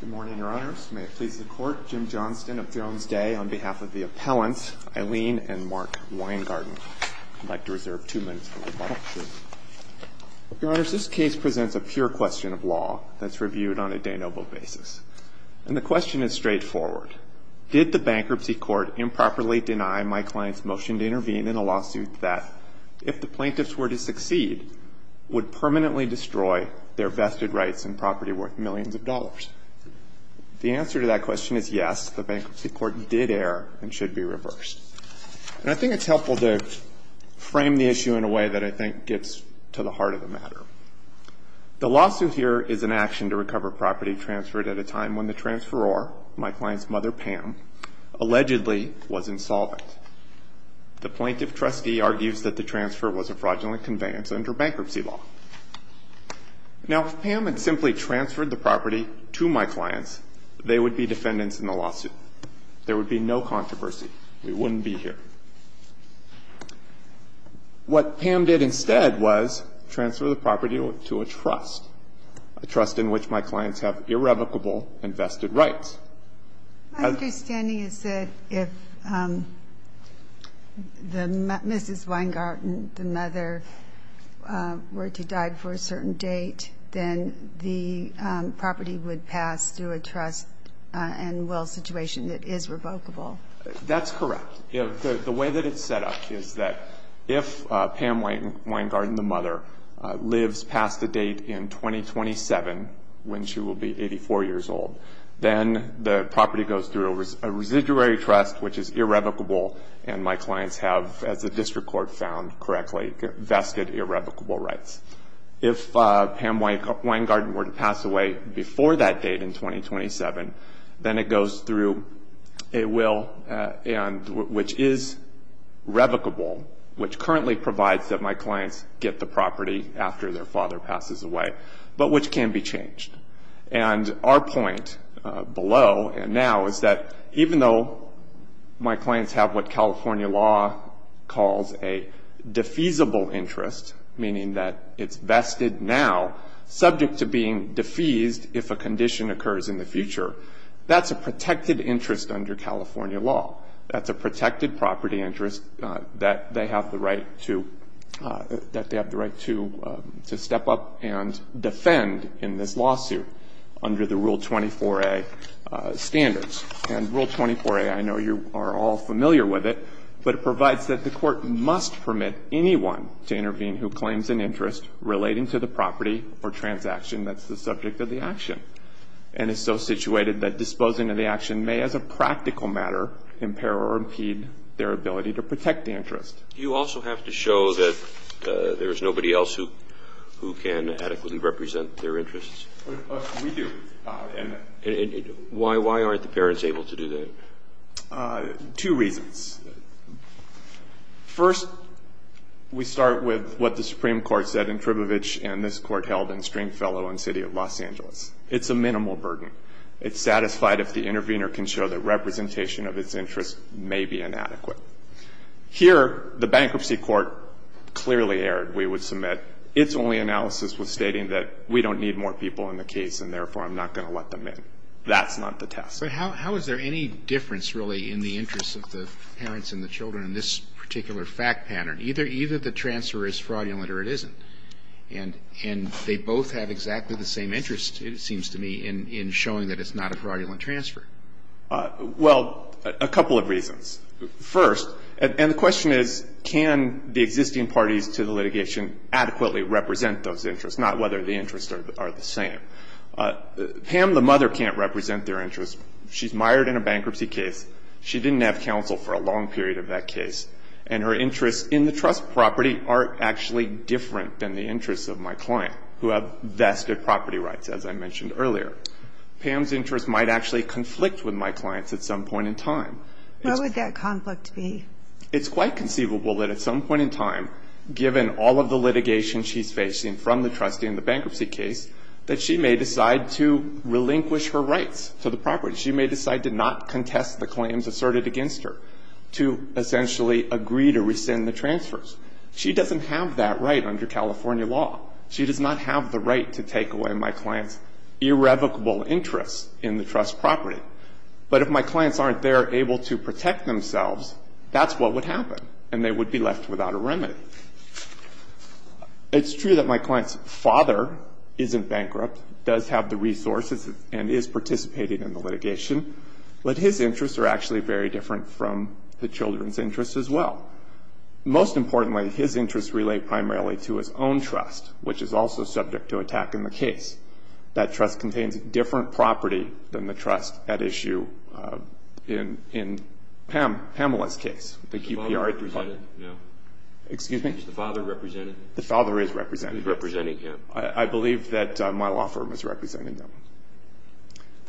Good morning, Your Honors. May it please the Court, Jim Johnston of Thrones Day, on behalf of the appellants, Eileen and Mark Weingarten. I'd like to reserve two minutes for rebuttal. Your Honors, this case presents a pure question of law that's reviewed on a de nobis basis. And the question is straightforward. Did the Bankruptcy Court improperly deny my client's motion to intervene in a lawsuit that, if the plaintiffs were to succeed, would permanently destroy their vested rights and property worth millions of dollars? The answer to that question is yes, the Bankruptcy Court did err and should be reversed. And I think it's helpful to frame the issue in a way that I think gets to the heart of the matter. The lawsuit here is an action to recover property transferred at a time when the transferor, my client's mother, Pam, allegedly was insolvent. The plaintiff trustee argues that the transfer was a fraudulent conveyance under bankruptcy law. Now, if Pam had simply transferred the property to my clients, they would be defendants in the lawsuit. There would be no controversy. We wouldn't be here. What Pam did instead was transfer the property to a trust, a trust in which my clients have irrevocable invested rights. My understanding is that if Mrs. Weingarten, the mother, were to die before a certain date, then the property would pass through a trust and will situation that is revocable. That's correct. The way that it's set up is that if Pam Weingarten, the mother, lives past the date in 2027, when she will be 84 years old, then the property goes through a residuary trust, which is irrevocable, and my clients have, as the district court found correctly, vested irrevocable rights. If Pam Weingarten were to pass away before that date in 2027, then it goes through a will which is revocable, which currently provides that my clients get the property after their father passes away, but which can be changed. And our point below and now is that even though my clients have what California law calls a defeasible interest, meaning that it's vested now, subject to being defeased if a condition occurs in the future, that's a protected interest under California law. That's a protected property interest that they have the right to step up and defend in this lawsuit under the Rule 24a standards. And Rule 24a, I know you are all familiar with it, but it provides that the court must permit anyone to intervene who claims an interest relating to the property or transaction that's the subject of the action and is so situated that disposing of the action may as a practical matter impair or impede their ability to protect the interest. Do you also have to show that there is nobody else who can adequately represent their interests? We do. And why aren't the parents able to do that? Two reasons. First, we start with what the Supreme Court said in Tribovich and this Court held in Stringfellow in the City of Los Angeles. It's a minimal burden. It's satisfied if the intervener can show that representation of its interest may be inadequate. Here, the Bankruptcy Court clearly erred, we would submit. Its only analysis was stating that we don't need more people in the case and therefore I'm not going to let them in. That's not the test. But how is there any difference really in the interests of the parents and the children in this particular fact pattern? Either the transfer is fraudulent or it isn't. And they both have exactly the same interest, it seems to me, in showing that it's not a fraudulent transfer. Well, a couple of reasons. First, and the question is can the existing parties to the litigation adequately represent those interests, not whether the interests are the same? Pam, the mother, can't represent their interests. She's mired in a bankruptcy case. She didn't have counsel for a long period of that case. And her interests in the trust property are actually different than the interests of my client, who have vested property rights, as I mentioned earlier. Pam's interests might actually conflict with my client's at some point in time. Where would that conflict be? It's quite conceivable that at some point in time, given all of the litigation she's facing from the trustee in the bankruptcy case, that she may decide to relinquish her rights to the property. She may decide to not contest the claims asserted against her, to essentially agree to rescind the transfers. She doesn't have that right under California law. She does not have the right to take away my client's irrevocable interests in the trust property. But if my clients aren't there able to protect themselves, that's what would happen, and they would be left without a remedy. It's true that my client's father isn't bankrupt, does have the resources and is participating in the litigation, but his interests are actually very different from the children's interests as well. Most importantly, his interests relate primarily to his own trust, which is also subject to attack in the case. That trust contains a different property than the trust at issue in Pamela's case, the QPR department. Is the father represented? Excuse me? Is the father represented? The father is represented. Who's representing him? I believe that my law firm is representing him.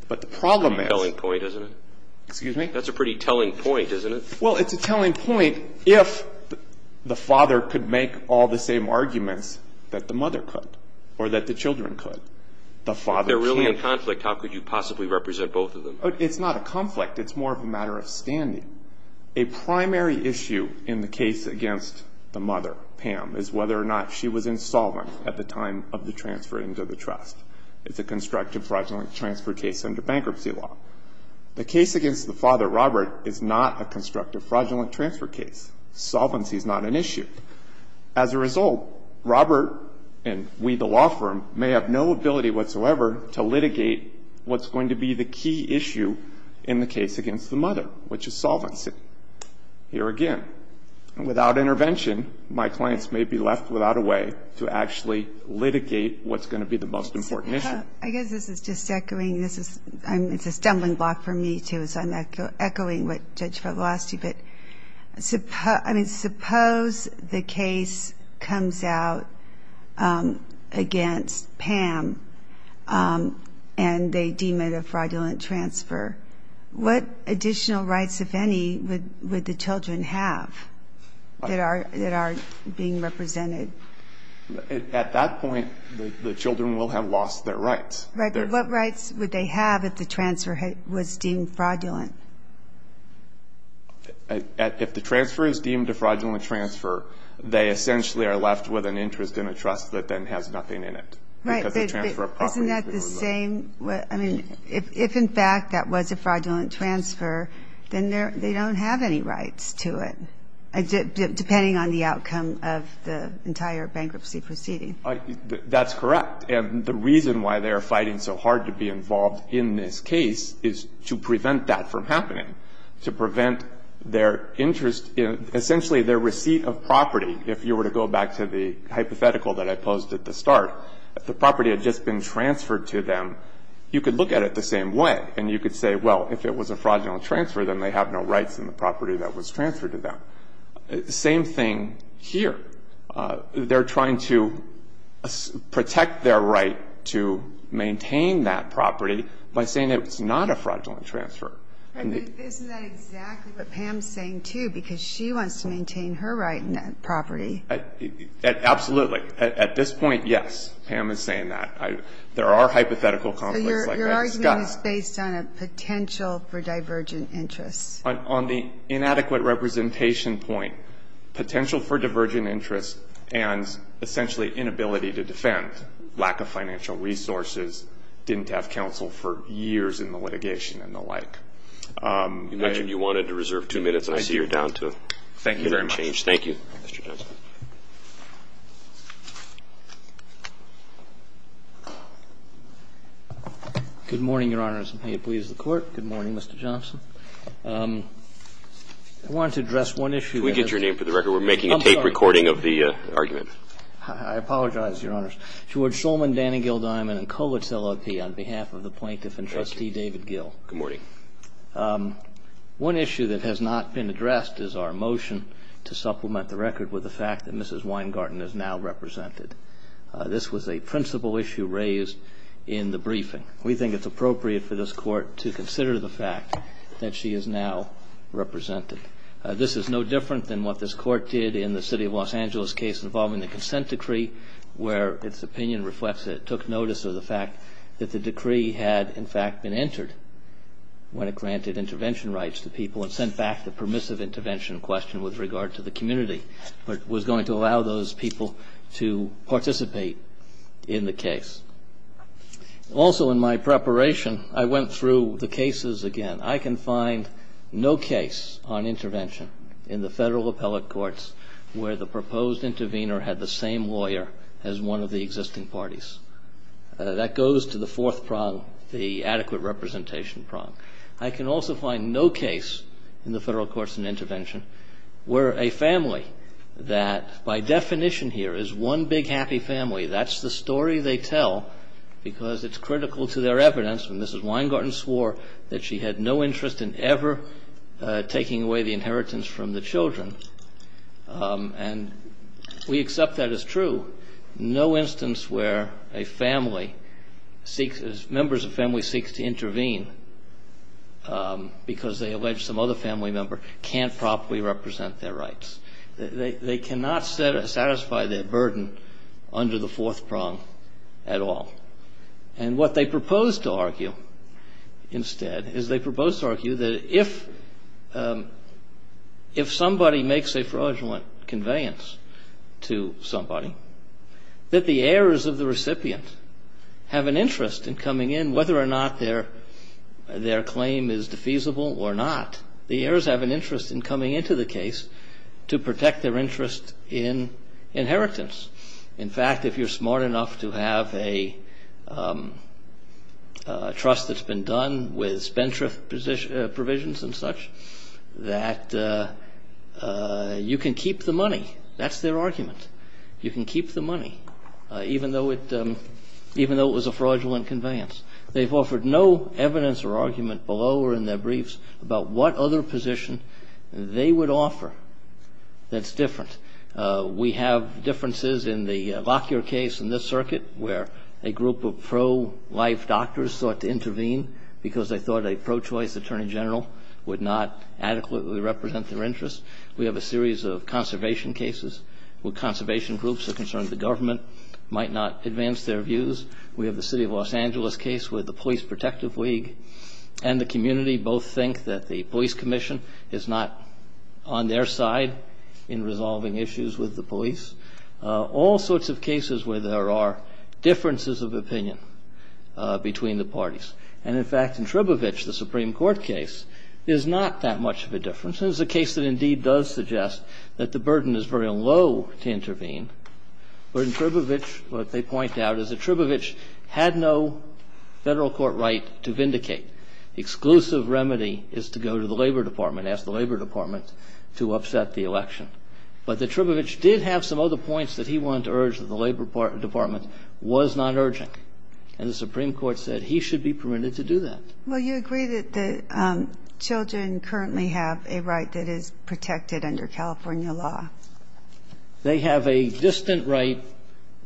But the problem is. That's a pretty telling point, isn't it? Excuse me? That's a pretty telling point, isn't it? Well, it's a telling point if the father could make all the same arguments that the mother could or that the children could. If they're really in conflict, how could you possibly represent both of them? It's not a conflict. It's more of a matter of standing. A primary issue in the case against the mother, Pam, is whether or not she was insolvent at the time of the transfer into the trust. It's a constructive fraudulent transfer case under bankruptcy law. The case against the father, Robert, is not a constructive fraudulent transfer case. Solvency is not an issue. As a result, Robert and we, the law firm, may have no ability whatsoever to litigate what's going to be the key issue in the case against the mother, which is solvency. Here again, without intervention, my clients may be left without a way to actually litigate what's going to be the most important issue. I guess this is just echoing. It's a stumbling block for me, too, so I'm echoing what Judge Fevelosti did. Suppose the case comes out against Pam and they deem it a fraudulent transfer. What additional rights, if any, would the children have that are being represented? At that point, the children will have lost their rights. Right, but what rights would they have if the transfer was deemed fraudulent? If the transfer is deemed a fraudulent transfer, they essentially are left with an interest in a trust that then has nothing in it. Right, but isn't that the same? I mean, if in fact that was a fraudulent transfer, then they don't have any rights to it, depending on the outcome of the entire bankruptcy proceeding. That's correct. And the reason why they are fighting so hard to be involved in this case is to prevent that from happening, to prevent their interest in essentially their receipt of property. If you were to go back to the hypothetical that I posed at the start, if the property had just been transferred to them, you could look at it the same way, and you could say, well, if it was a fraudulent transfer, then they have no rights in the property that was transferred to them. Same thing here. They're trying to protect their right to maintain that property by saying it's not a fraudulent transfer. Isn't that exactly what Pam is saying, too, because she wants to maintain her right in that property? Absolutely. Absolutely. At this point, yes, Pam is saying that. There are hypothetical conflicts like that. So your argument is based on a potential for divergent interests. On the inadequate representation point, potential for divergent interests and essentially inability to defend, lack of financial resources, didn't have counsel for years in the litigation and the like. You mentioned you wanted to reserve two minutes. I see you're down to change. Thank you very much. Thank you. Mr. Johnson. Good morning, Your Honors, and may it please the Court. Good morning, Mr. Johnson. I wanted to address one issue. Could we get your name for the record? We're making a tape recording of the argument. I'm sorry. I apologize, Your Honors. George Solman, Danny Gil Diamond, and Kovitz, LLP, on behalf of the plaintiff and Trustee David Gill. Good morning. One issue that has not been addressed is our motion to supplement the record with the fact that Mrs. Weingarten is now represented. This was a principal issue raised in the briefing. We think it's appropriate for this Court to consider the fact that she is now represented. This is no different than what this Court did in the City of Los Angeles case involving the consent decree, where its opinion reflects that it took notice of the fact that the decree had, in fact, been entered when it granted intervention rights to people and sent back the permissive intervention question with regard to the community, but was going to allow those people to participate in the case. Also in my preparation, I went through the cases again. I can find no case on intervention in the federal appellate courts where the proposed intervener had the same lawyer as one of the existing parties. That goes to the fourth prong, the adequate representation prong. I can also find no case in the federal courts in intervention where a family that by definition here is one big happy family, that's the story they tell because it's critical to their evidence, and Mrs. Weingarten swore that she had no interest in ever taking away the inheritance from the children, and we accept that as true. No instance where members of family seek to intervene because they allege some other family member can't properly represent their rights. They cannot satisfy their burden under the fourth prong at all. And what they propose to argue instead is they propose to argue that if somebody makes a fraudulent conveyance to somebody, that the heirs of the recipient have an interest in coming in, whether or not their claim is defeasible or not. The heirs have an interest in coming into the case to protect their interest in inheritance. In fact, if you're smart enough to have a trust that's been done with spendthrift provisions and such, that you can keep the money. That's their argument. You can keep the money even though it was a fraudulent conveyance. They've offered no evidence or argument below or in their briefs about what other position they would offer that's different. We have differences in the Lockyer case in this circuit where a group of pro-life doctors sought to intervene because they thought a pro-choice attorney general would not adequately represent their interest. We have a series of conservation cases where conservation groups are concerned the government might not advance their views. We have the city of Los Angeles case where the Police Protective League and the community both think that the police commission is not on their side in resolving issues with the police. All sorts of cases where there are differences of opinion between the parties. And, in fact, in Tribovich, the Supreme Court case, there's not that much of a difference. There's a case that indeed does suggest that the burden is very low to intervene. But in Tribovich, what they point out is that Tribovich had no Federal court right to vindicate. The exclusive remedy is to go to the Labor Department, ask the Labor Department to upset the election. But the Tribovich did have some other points that he wanted to urge that the Labor Department was not urging. And the Supreme Court said he should be permitted to do that. Well, you agree that children currently have a right that is protected under California law. They have a distant right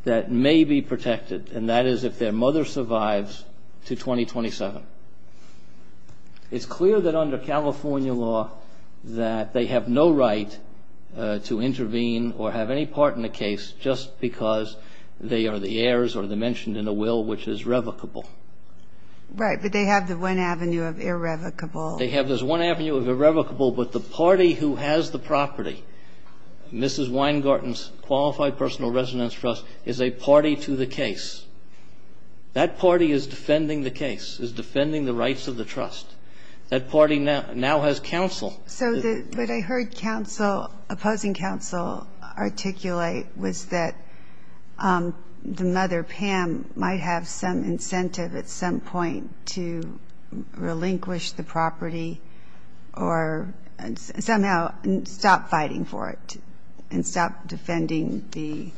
that may be protected, and that is if their mother survives to 2027. It's clear that under California law that they have no right to intervene or have any part in a case just because they are the heirs or they're mentioned in a will which is revocable. Right. But they have the one avenue of irrevocable. They have this one avenue of irrevocable. But the party who has the property, Mrs. Weingarten's Qualified Personal Residence Trust, is a party to the case. That party is defending the case, is defending the rights of the trust. That party now has counsel. So what I heard opposing counsel articulate was that the mother, Pam, might have some incentive at some point to relinquish the property or somehow stop fighting for it and stop defending the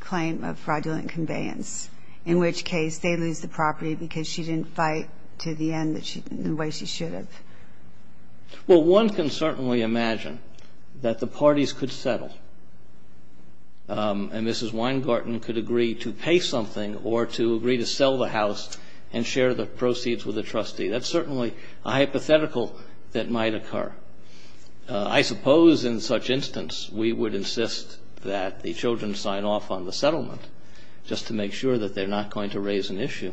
claim of fraudulent conveyance, in which case they lose the property because she didn't fight to the end the way she should have. Well, one can certainly imagine that the parties could settle and Mrs. Weingarten could agree to pay something or to agree to sell the house and share the proceeds with the trustee. That's certainly a hypothetical that might occur. I suppose in such instance we would insist that the children sign off on the settlement just to make sure that they're not going to raise an issue.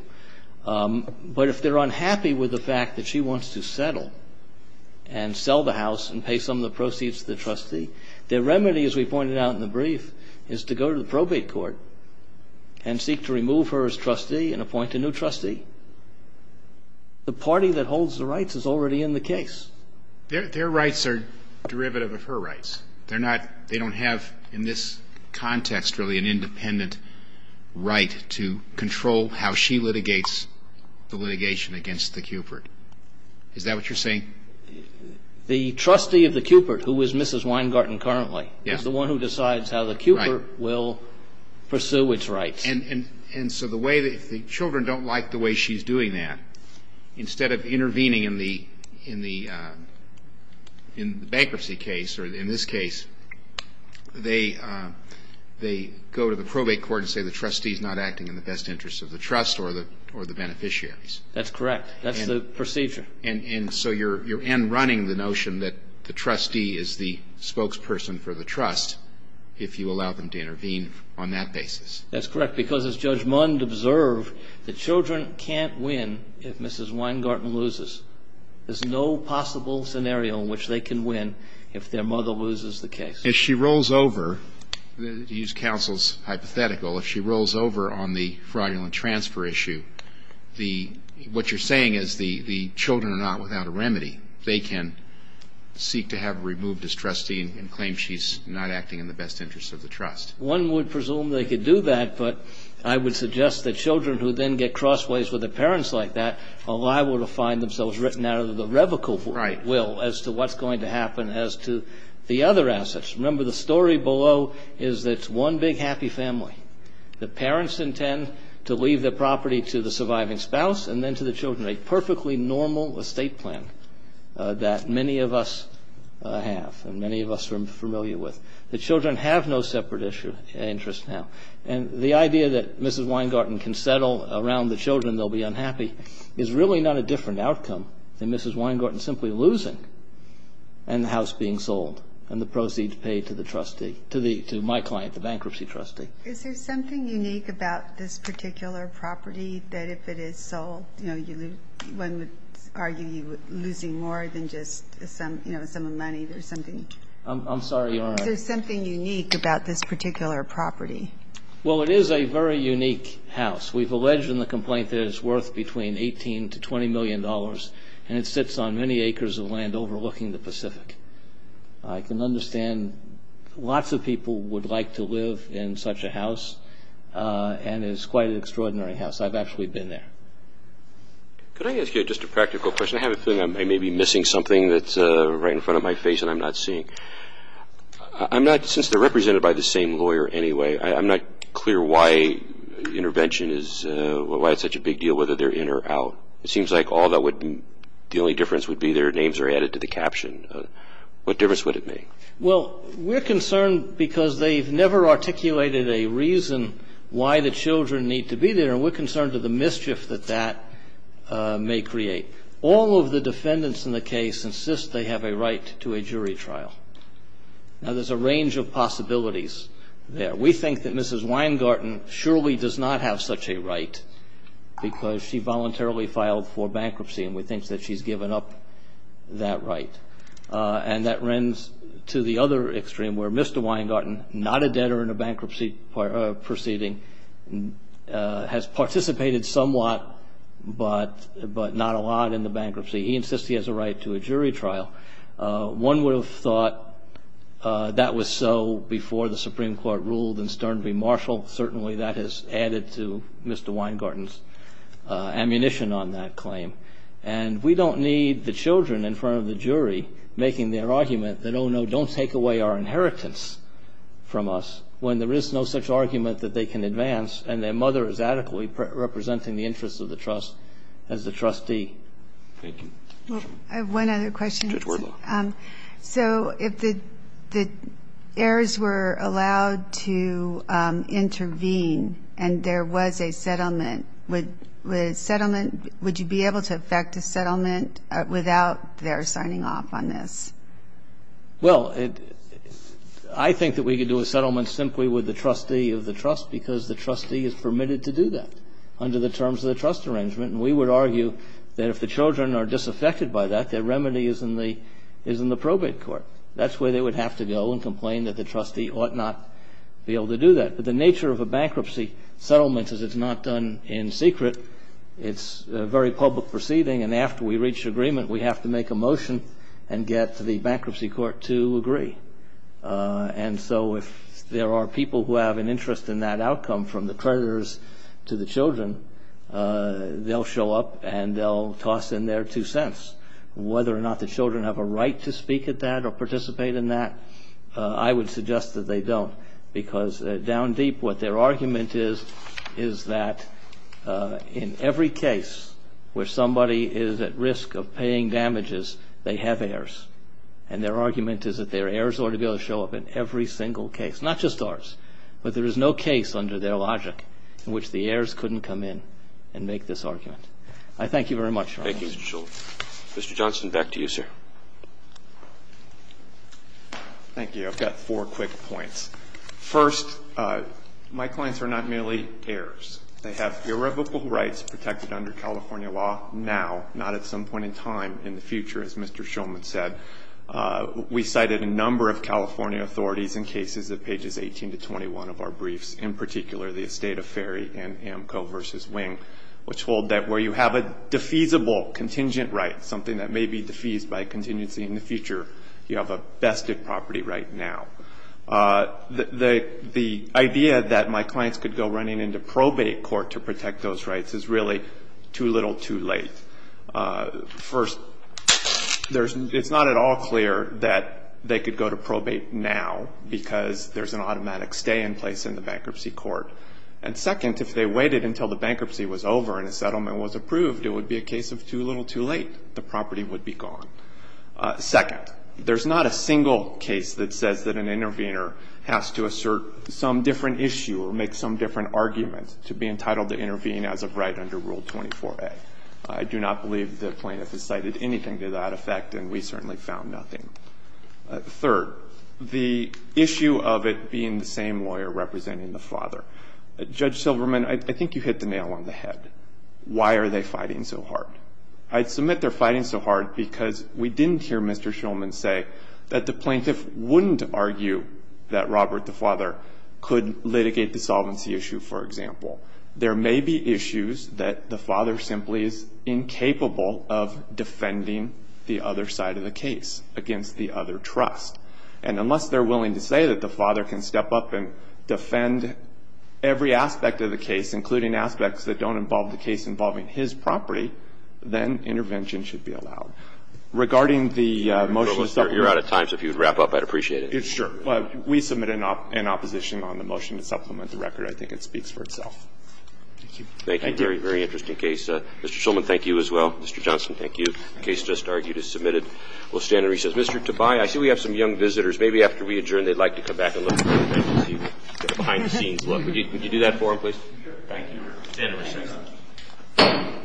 But if they're unhappy with the fact that she wants to settle and sell the house and pay some of the proceeds to the trustee, the remedy, as we pointed out in the brief, is to go to the probate court and seek to remove her as trustee and appoint a new trustee. The party that holds the rights is already in the case. Their rights are derivative of her rights. They don't have in this context really an independent right to control how she litigates the litigation against the Cupert. Is that what you're saying? The trustee of the Cupert, who is Mrs. Weingarten currently, is the one who decides how the Cupert will pursue its rights. And so if the children don't like the way she's doing that, instead of intervening in the bankruptcy case or in this case, they go to the probate court and say the trustee is not acting in the best interest of the trust or the beneficiaries. That's correct. That's the procedure. And so you're in running the notion that the trustee is the spokesperson for the trust if you allow them to intervene on that basis. That's correct, because as Judge Mund observed, the children can't win if Mrs. Weingarten loses. There's no possible scenario in which they can win if their mother loses the case. If she rolls over, to use counsel's hypothetical, if she rolls over on the fraudulent transfer issue, what you're saying is the children are not without a remedy. They can seek to have her removed as trustee and claim she's not acting in the best interest of the trust. One would presume they could do that, but I would suggest that children who then get crossways with their parents like that are liable to find themselves written out of the revocable will as to what's going to happen as to the other assets. Remember, the story below is that it's one big happy family. The parents intend to leave the property to the surviving spouse and then to the children, a perfectly normal estate plan that many of us have and many of us are familiar with. The children have no separate interest now. And the idea that Mrs. Weingarten can settle around the children, they'll be unhappy, is really not a different outcome than Mrs. Weingarten simply losing and the house being sold and the proceeds paid to the trustee, to my client, the bankruptcy trustee. Is there something unique about this particular property that if it is sold, one would argue you're losing more than just some money or something? I'm sorry, Your Honor. Is there something unique about this particular property? Well, it is a very unique house. We've alleged in the complaint that it's worth between $18 to $20 million and it sits on many acres of land overlooking the Pacific. I can understand lots of people would like to live in such a house and it's quite an extraordinary house. I've actually been there. Could I ask you just a practical question? I kind of have a feeling I may be missing something that's right in front of my face and I'm not seeing. Since they're represented by the same lawyer anyway, I'm not clear why intervention is such a big deal, whether they're in or out. It seems like the only difference would be their names are added to the caption. What difference would it make? Well, we're concerned because they've never articulated a reason why the children need to be there, and we're concerned of the mischief that that may create. All of the defendants in the case insist they have a right to a jury trial. Now, there's a range of possibilities there. We think that Mrs. Weingarten surely does not have such a right because she voluntarily filed for bankruptcy and we think that she's given up that right. And that rends to the other extreme where Mr. Weingarten, not a debtor in a bankruptcy proceeding, has participated somewhat but not a lot in the bankruptcy. He insists he has a right to a jury trial. One would have thought that was so before the Supreme Court ruled and Stern v. Marshall. Certainly that has added to Mr. Weingarten's ammunition on that claim. And we don't need the children in front of the jury making their argument that, oh, no, don't take away our inheritance from us, when there is no such argument that they can advance and their mother is adequately representing the interests of the trust as the trustee. Thank you. I have one other question. Judge Wardlaw. So if the heirs were allowed to intervene and there was a settlement, would you be able to effect a settlement without their signing off on this? Well, I think that we could do a settlement simply with the trustee of the trust because the trustee is permitted to do that under the terms of the trust arrangement. And we would argue that if the children are disaffected by that, their remedy is in the probate court. That's where they would have to go and complain that the trustee ought not be able to do that. The nature of a bankruptcy settlement is it's not done in secret. It's a very public proceeding. And after we reach agreement, we have to make a motion and get the bankruptcy court to agree. And so if there are people who have an interest in that outcome from the creditors to the children, they'll show up and they'll toss in their two cents. Whether or not the children have a right to speak at that or participate in that, I would suggest that they don't because down deep what their argument is, is that in every case where somebody is at risk of paying damages, they have heirs. And their argument is that their heirs ought to be able to show up in every single case, not just ours, but there is no case under their logic in which the heirs couldn't come in and make this argument. I thank you very much, Your Honor. Thank you, Mr. Shulman. Mr. Johnson, back to you, sir. Thank you. I've got four quick points. First, my clients are not merely heirs. They have theoretical rights protected under California law now, not at some point in time in the future, as Mr. Shulman said. We cited a number of California authorities in cases of pages 18 to 21 of our briefs, in particular the estate affair in Amco v. Wing, which hold that where you have a defeasible contingent right, something that may be defeased by a contingency in the future, you have a vested property right now. The idea that my clients could go running into probate court to protect those rights is really too little too late. First, it's not at all clear that they could go to probate now because there's an automatic stay in place in the bankruptcy court. And second, if they waited until the bankruptcy was over and a settlement was approved, it would be a case of too little too late. The property would be gone. Second, there's not a single case that says that an intervener has to assert some different issue or make some different argument to be entitled to intervene as a right under Rule 24a. I do not believe the plaintiff has cited anything to that effect, and we certainly found nothing. Third, the issue of it being the same lawyer representing the father. Judge Silverman, I think you hit the nail on the head. Why are they fighting so hard? I submit they're fighting so hard because we didn't hear Mr. Silverman say that the plaintiff wouldn't argue that Robert, the father, could litigate the solvency issue, for example. There may be issues that the father simply is incapable of defending the other side of the case against the other trust. And unless they're willing to say that the father can step up and defend every aspect of the case, including aspects that don't involve the case involving his property, then intervention should be allowed. Regarding the motion to supplement the record. Roberts, you're out of time, so if you would wrap up, I'd appreciate it. Sure. We submit an opposition on the motion to supplement the record. I think it speaks for itself. Thank you. Thank you. Thank you. Very, very interesting case. Mr. Silverman, thank you as well. Mr. Johnson, thank you. The case just argued is submitted. We'll stand and recess. Mr. Tobias, I see we have some young visitors. Maybe after we adjourn, they'd like to come back and look at the behind the scenes. Would you do that for them, please? Thank you. We'll stand and recess.